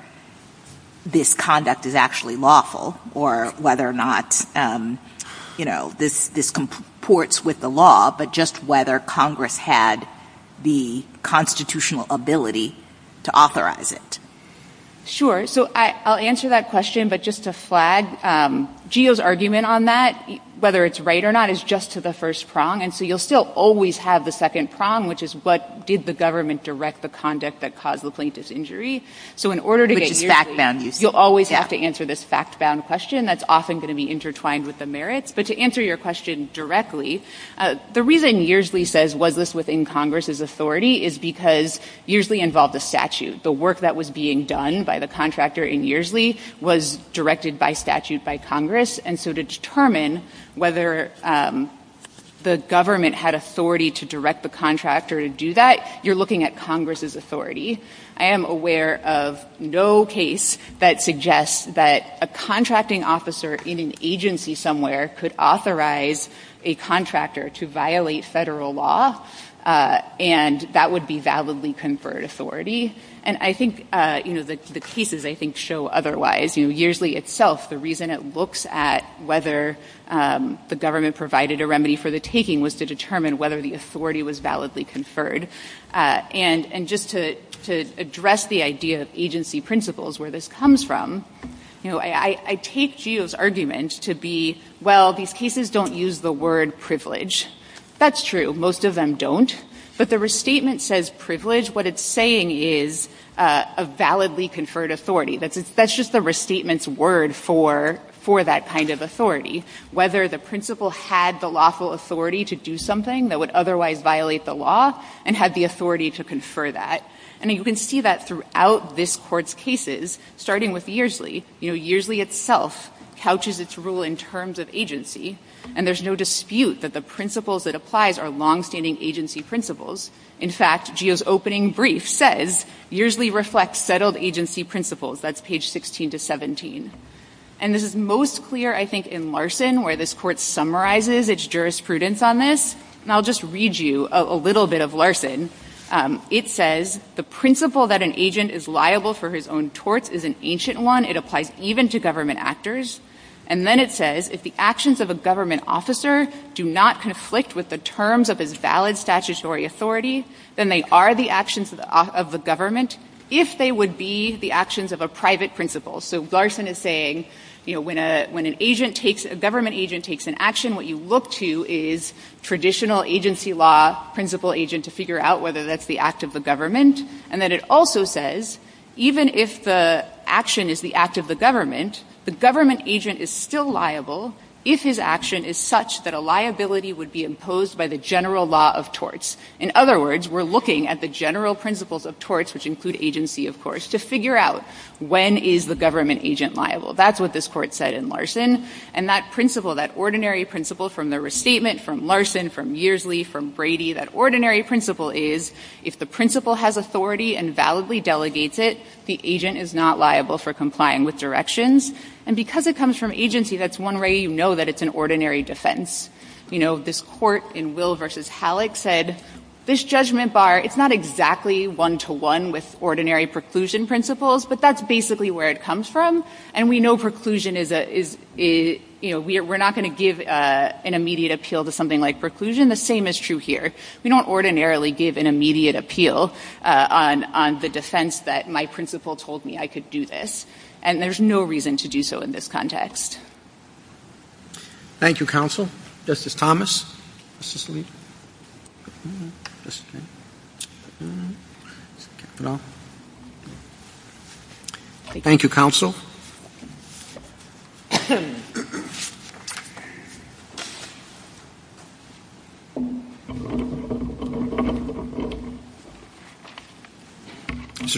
this conduct is actually lawful or whether or not, you know, this comports with the law, but just whether Congress had the constitutional ability to authorize it. Sure. So I'll answer that question, but just to flag, GEO's argument on that, whether it's right or not, is just to the first prong. And so you'll still always have the second prong, which is what did the government direct the conduct that caused the plaintiff's injury. So in order to get Yearsley, you'll always have to answer this fact-bound question that's often going to be intertwined with the merits. But to answer your question directly, the reason Yearsley says was this within Congress's authority is because Yearsley involved a statute. The work that was being done by the contractor in Yearsley was directed by statute by Congress, and so to determine whether the government had authority to direct the contractor to do that, you're looking at Congress's authority. I am aware of no case that suggests that a contracting officer in an agency somewhere could authorize a contractor to violate Federal law, and that would be validly conferred authority. And I think, you know, the cases, I think, show otherwise. You know, Yearsley itself, the reason it looks at whether the government provided a remedy for the taking was to determine whether the authority was validly conferred. And just to address the idea of agency principles where this comes from, you know, I take Geo's argument to be, well, these cases don't use the word privilege. That's true. Most of them don't. But the restatement says privilege. What it's saying is a validly conferred authority. That's just the restatement's word for that kind of authority, whether the principal had the lawful authority to do something that would otherwise violate the law and had the authority to confer that. And you can see that throughout this Court's cases, starting with Yearsley. You know, Yearsley itself couches its rule in terms of agency, and there's no dispute that the principles it applies are longstanding agency principles. In fact, Geo's opening brief says, Yearsley reflects settled agency principles. That's page 16 to 17. And this is most clear, I think, in Larson, where this Court summarizes its jurisprudence on this. And I'll just read you a little bit of Larson. It says, the principle that an agent is liable for his own torts is an ancient one. It applies even to government actors. And then it says, if the actions of a government officer do not conflict with the terms of his valid statutory authority, then they are the actions of the government if they would be the actions of a private principal. So Larson is saying, you know, when an agent takes – a government agent takes an action, what you look to is traditional agency law principal agent to figure out whether that's the act of the government. And then it also says, even if the action is the act of the government, the government agent is still liable if his action is such that a liability would be imposed by the general law of torts. In other words, we're looking at the general principles of torts, which include agency, of course, to figure out when is the government agent liable. That's what this Court said in Larson. And that principle, that ordinary principle from the restatement from Larson, from Yearsley, from Brady, that ordinary principle is, if the principal has authority and validly delegates it, the agent is not liable for complying with directions. And because it comes from agency, that's one way you know that it's an ordinary defense. You know, this Court in Will v. Halleck said, this judgment bar, it's not exactly one-to-one with ordinary preclusion principles, but that's basically where it comes from. And we know preclusion is – you know, we're not going to give an immediate appeal to something like preclusion. The same is true here. We don't ordinarily give an immediate appeal on the defense that my principal told me I could do this. And there's no reason to do so in this context. Thank you, counsel. Justice Thomas. Justice Alito. Thank you, counsel. Mr.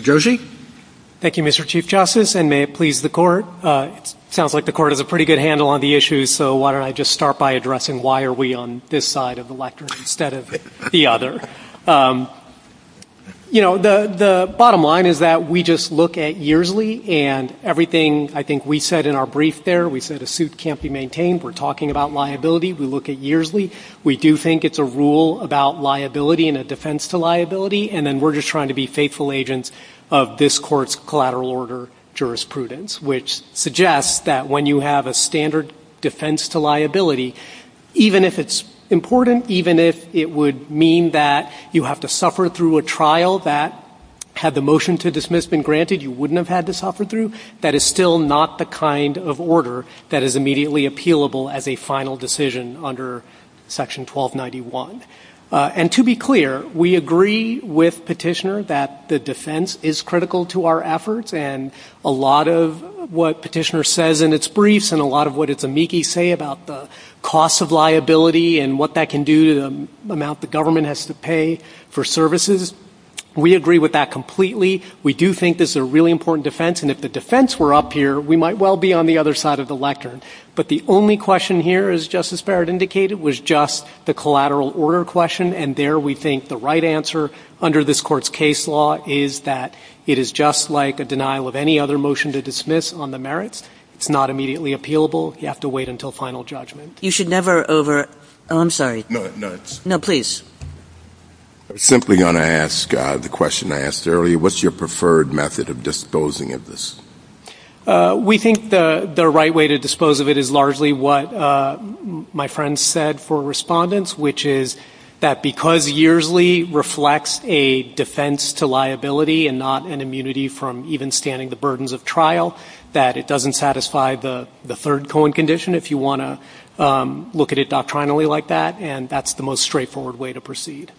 Joshi. Thank you, Mr. Chief Justice, and may it please the Court. It sounds like the Court has a pretty good handle on the issue, so why don't I just start by addressing why are we on this side of the lectern instead of the other. You know, the bottom line is that we just look at Yearsley and everything that I think we said in our brief there. We said a suit can't be maintained. We're talking about liability. We look at Yearsley. We do think it's a rule about liability and a defense to liability, and then we're just trying to be faithful agents of this Court's collateral order jurisprudence, which suggests that when you have a standard defense to liability, even if it's important, even if it would mean that you have to suffer through a trial that had the motion to dismiss been granted, you wouldn't have had to suffer through. That is still not the kind of order that is immediately appealable as a final decision under Section 1291. And to be clear, we agree with Petitioner that the defense is critical to our efforts, and a lot of what Petitioner says in its briefs and a lot of what its amici say about the cost of liability and what that can do to the amount the government has to pay for services. We agree with that completely. We do think this is a really important defense, and if the defense were up here, we might well be on the other side of the lectern. But the only question here, as Justice Barrett indicated, was just the collateral order question, and there we think the right answer under this Court's case law is that it is just like a denial of any other motion to dismiss on the merits. It's not immediately appealable. You have to wait until final judgment. You should never over – oh, I'm sorry. No, no. No, please. I was simply going to ask the question I asked earlier. What's your preferred method of disposing of this? We think the right way to dispose of it is largely what my friend said for respondents, which is that because Yearsley reflects a defense to liability and not an immunity from even standing the burdens of trial, that it doesn't satisfy the third Cohen condition if you want to look at it doctrinally like that, and that's the most straightforward way to proceed.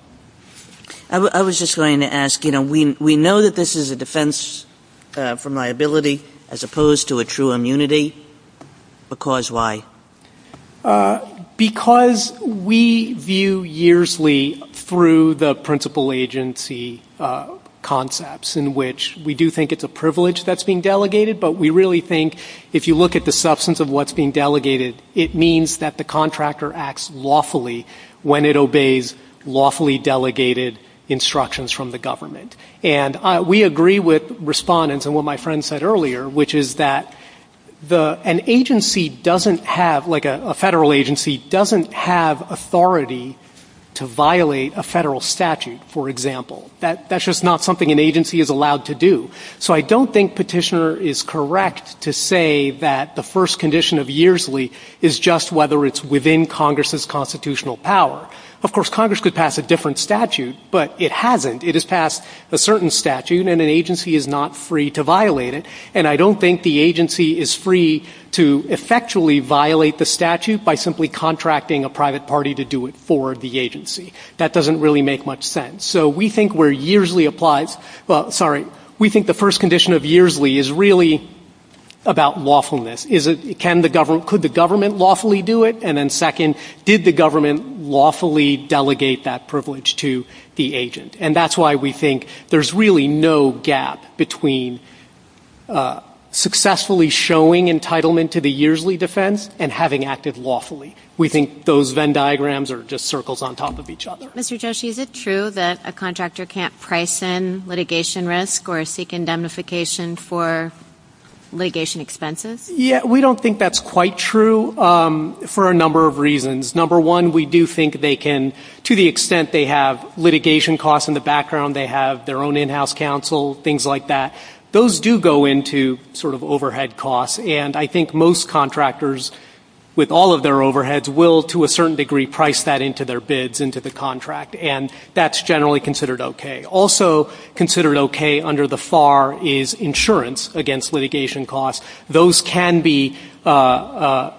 I was just going to ask, you know, we know that this is a defense from liability as opposed to a true immunity. Because why? Because we view Yearsley through the principal agency concepts in which we do think it's a privilege that's being delegated, but we really think if you look at the substance of what's being delegated, it means that the contractor acts lawfully when it obeys lawfully delegated instructions from the government. And we agree with respondents and what my friend said earlier, which is that an agency doesn't have – like a Federal agency doesn't have authority to violate a Federal statute, for example. That's just not something an agency is allowed to do. So I don't think Petitioner is correct to say that the first condition of Yearsley is just whether it's within Congress's constitutional power. Of course, Congress could pass a different statute, but it hasn't. It has passed a certain statute, and an agency is not free to violate it. And I don't think the agency is free to effectually violate the statute by simply contracting a private party to do it for the agency. That doesn't really make much sense. So we think where Yearsley applies – well, sorry. We think the first condition of Yearsley is really about lawfulness. Is it – can the government – could the government lawfully do it? And then second, did the government lawfully delegate that privilege to the agent? And that's why we think there's really no gap between successfully showing entitlement to the Yearsley defense and having acted lawfully. We think those Venn diagrams are just circles on top of each other. Mr. Joshi, is it true that a contractor can't price in litigation risk or seek indemnification for litigation expenses? Yeah. We don't think that's quite true for a number of reasons. Number one, we do think they can – to the extent they have litigation costs in the background, they have their own in-house counsel, things like that, those do go into sort of overhead costs. And I think most contractors, with all of their overheads, will, to a certain degree, price that into their bids, into the contract, and that's generally considered okay. Also considered okay under the FAR is insurance against litigation costs. Those can be a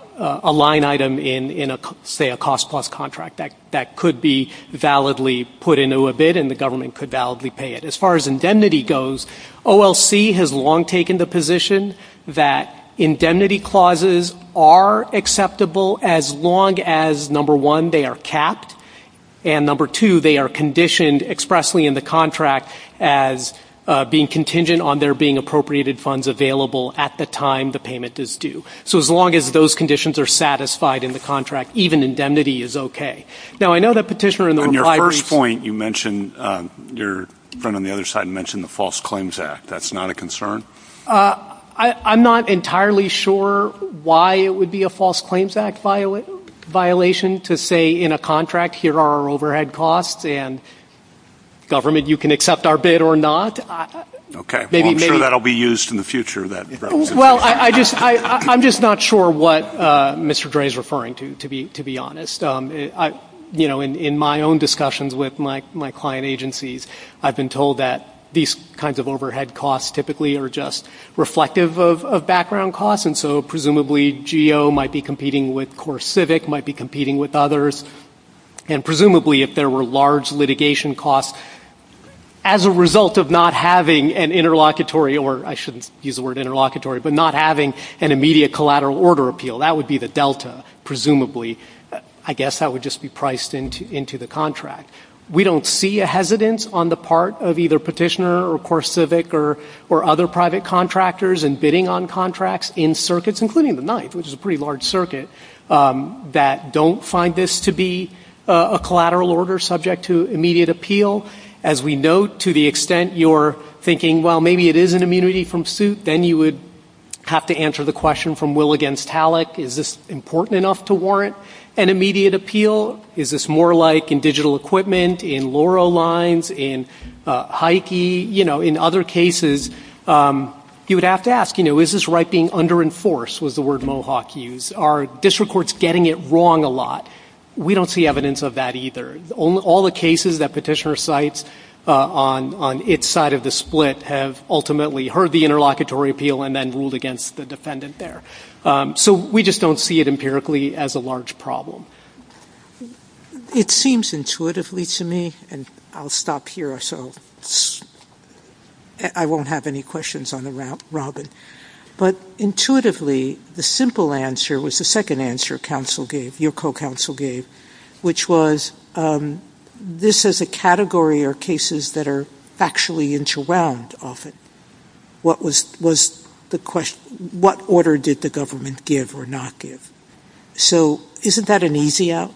line item in, say, a cost-plus contract. That could be validly put into a bid and the government could validly pay it. As far as indemnity goes, OLC has long taken the position that indemnity clauses are acceptable as long as, number one, they are capped, and number two, they are conditioned expressly in the contract as being contingent on there being appropriated funds available at the time the payment is due. So as long as those conditions are satisfied in the contract, even indemnity is okay. Now, I know that Petitioner in the reply was – On your first point, you mentioned – your friend on the other side mentioned the False Claims Act. That's not a concern? I'm not entirely sure why it would be a False Claims Act violation to say in a contract, here are our overhead costs and, government, you can accept our bid or not. Okay. Well, I'm sure that will be used in the future. Well, I'm just not sure what Mr. Dray is referring to, to be honest. You know, in my own discussions with my client agencies, I've been told that these kinds of overhead costs typically are just reflective of background costs, and so presumably GEO might be competing with CoreCivic, might be competing with others, and presumably if there were large litigation costs, as a result of not having an interlocutory, or I shouldn't use the word interlocutory, but not having an immediate collateral order appeal, that would be the delta, presumably. I guess that would just be priced into the contract. We don't see a hesitance on the part of either Petitioner or CoreCivic or other private contractors in bidding on contracts in circuits, including the Ninth, which is a pretty large circuit, that don't find this to be a collateral order subject to immediate appeal. As we know, to the extent you're thinking, well, maybe it is an immunity from suit, then you would have to answer the question from Will against Halleck, is this important enough to warrant an immediate appeal? Is this more like in digital equipment, in Loro lines, in high key? You know, in other cases, you would have to ask, you know, is this right being under-enforced, was the word Mohawk used? Are district courts getting it wrong a lot? We don't see evidence of that either. All the cases that Petitioner cites on its side of the split have ultimately heard the interlocutory appeal and then ruled against the defendant there. So we just don't see it empirically as a large problem. It seems intuitively to me, and I'll stop here, so I won't have any questions on the Robin. But intuitively, the simple answer was the second answer your co-counsel gave, which was this is a category or cases that are factually interwound often. What was the question? What order did the government give or not give? So isn't that an easy out?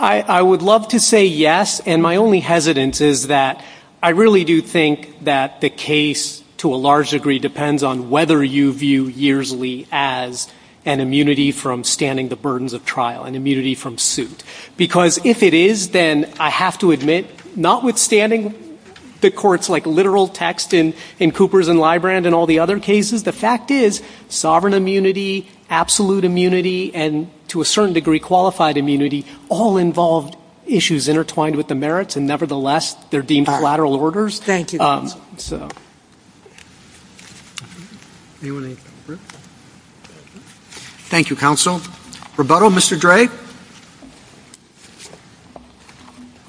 I would love to say yes, and my only hesitance is that I really do think that the case to a large degree depends on whether you view yearsly as an immunity from standing the burdens of trial, an immunity from suit, because if it is, then I have to admit, notwithstanding the courts like literal text in Cooper's and Librand and all the other cases, the fact is sovereign immunity, absolute immunity, and to a certain degree qualified immunity all involved issues intertwined with the merits, and nevertheless, they're deemed collateral orders. Thank you, counsel. Thank you, counsel. Rebuttal, Mr. Dre.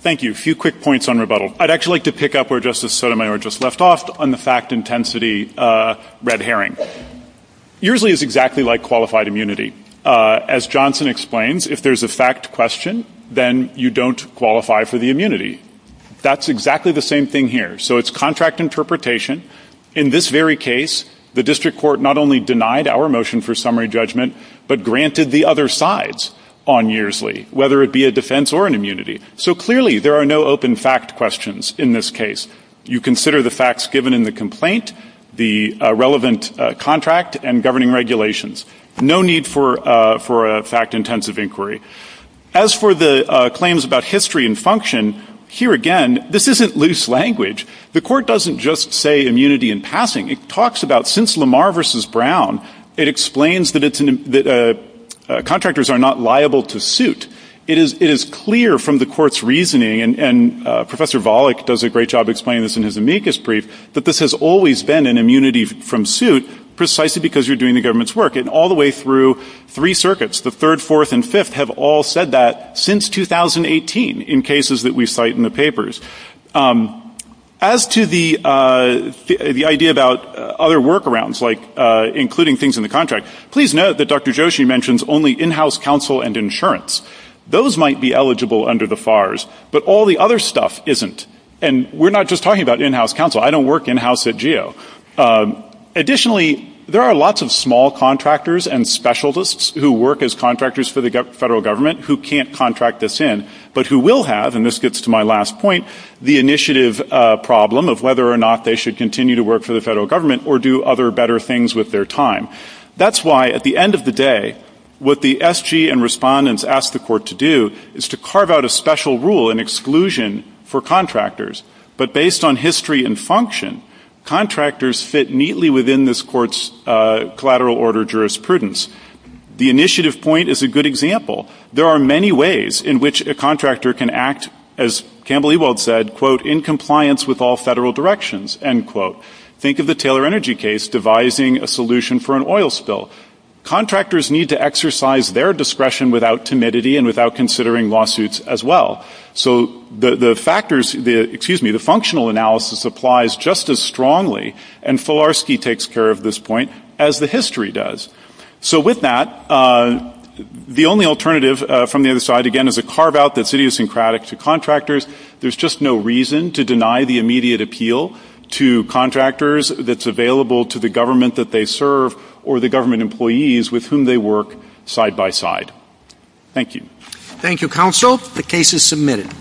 Thank you. A few quick points on rebuttal. I'd actually like to pick up where Justice Sotomayor just left off on the fact intensity red herring. Yearsly is exactly like qualified immunity. As Johnson explains, if there's a fact question, then you don't qualify for the immunity. That's exactly the same thing here. So it's contract interpretation. In this very case, the district court not only denied our motion for summary judgment, but granted the other side's on yearsly, whether it be a defense or an immunity. So clearly, there are no open fact questions in this case. You consider the facts given in the complaint, the relevant contract, and governing regulations. No need for a fact intensive inquiry. As for the claims about history and function, here again, this isn't loose language. The court doesn't just say immunity in passing. It talks about since Lamar v. Brown, it explains that contractors are not liable to suit. It is clear from the court's reasoning, and Professor Volokh does a great job explaining this in his amicus brief, that this has always been an immunity from suit precisely because you're doing the government's work. And all the way through three circuits, the third, fourth, and fifth, have all said that since 2018 in cases that we cite in the papers. As to the idea about other workarounds, like including things in the contract, please note that Dr. Joshi mentions only in-house counsel and insurance. Those might be eligible under the FARS, but all the other stuff isn't. And we're not just talking about in-house counsel. I don't work in-house at GEO. Additionally, there are lots of small contractors and specialists who work as contractors for the federal government, who can't contract this in, but who will have, and this gets to my last point, the initiative problem of whether or not they should continue to work for the federal government or do other better things with their time. That's why at the end of the day, what the SG and respondents ask the court to do is to carve out a special rule in exclusion for contractors. But based on history and function, contractors fit neatly within this court's collateral order jurisprudence. The initiative point is a good example. There are many ways in which a contractor can act, as Campbell Ewald said, quote, in compliance with all federal directions, end quote. Think of the Taylor Energy case devising a solution for an oil spill. Contractors need to exercise their discretion without timidity and without considering lawsuits as well. So the factors, excuse me, the functional analysis applies just as strongly, and Filarski takes care of this point as the history does. So with that, the only alternative from the other side, again, is a carve-out that's idiosyncratic to contractors. There's just no reason to deny the immediate appeal to contractors that's available to the government that they serve or the government employees with whom they work side by side. Thank you. Thank you, counsel. The case is submitted.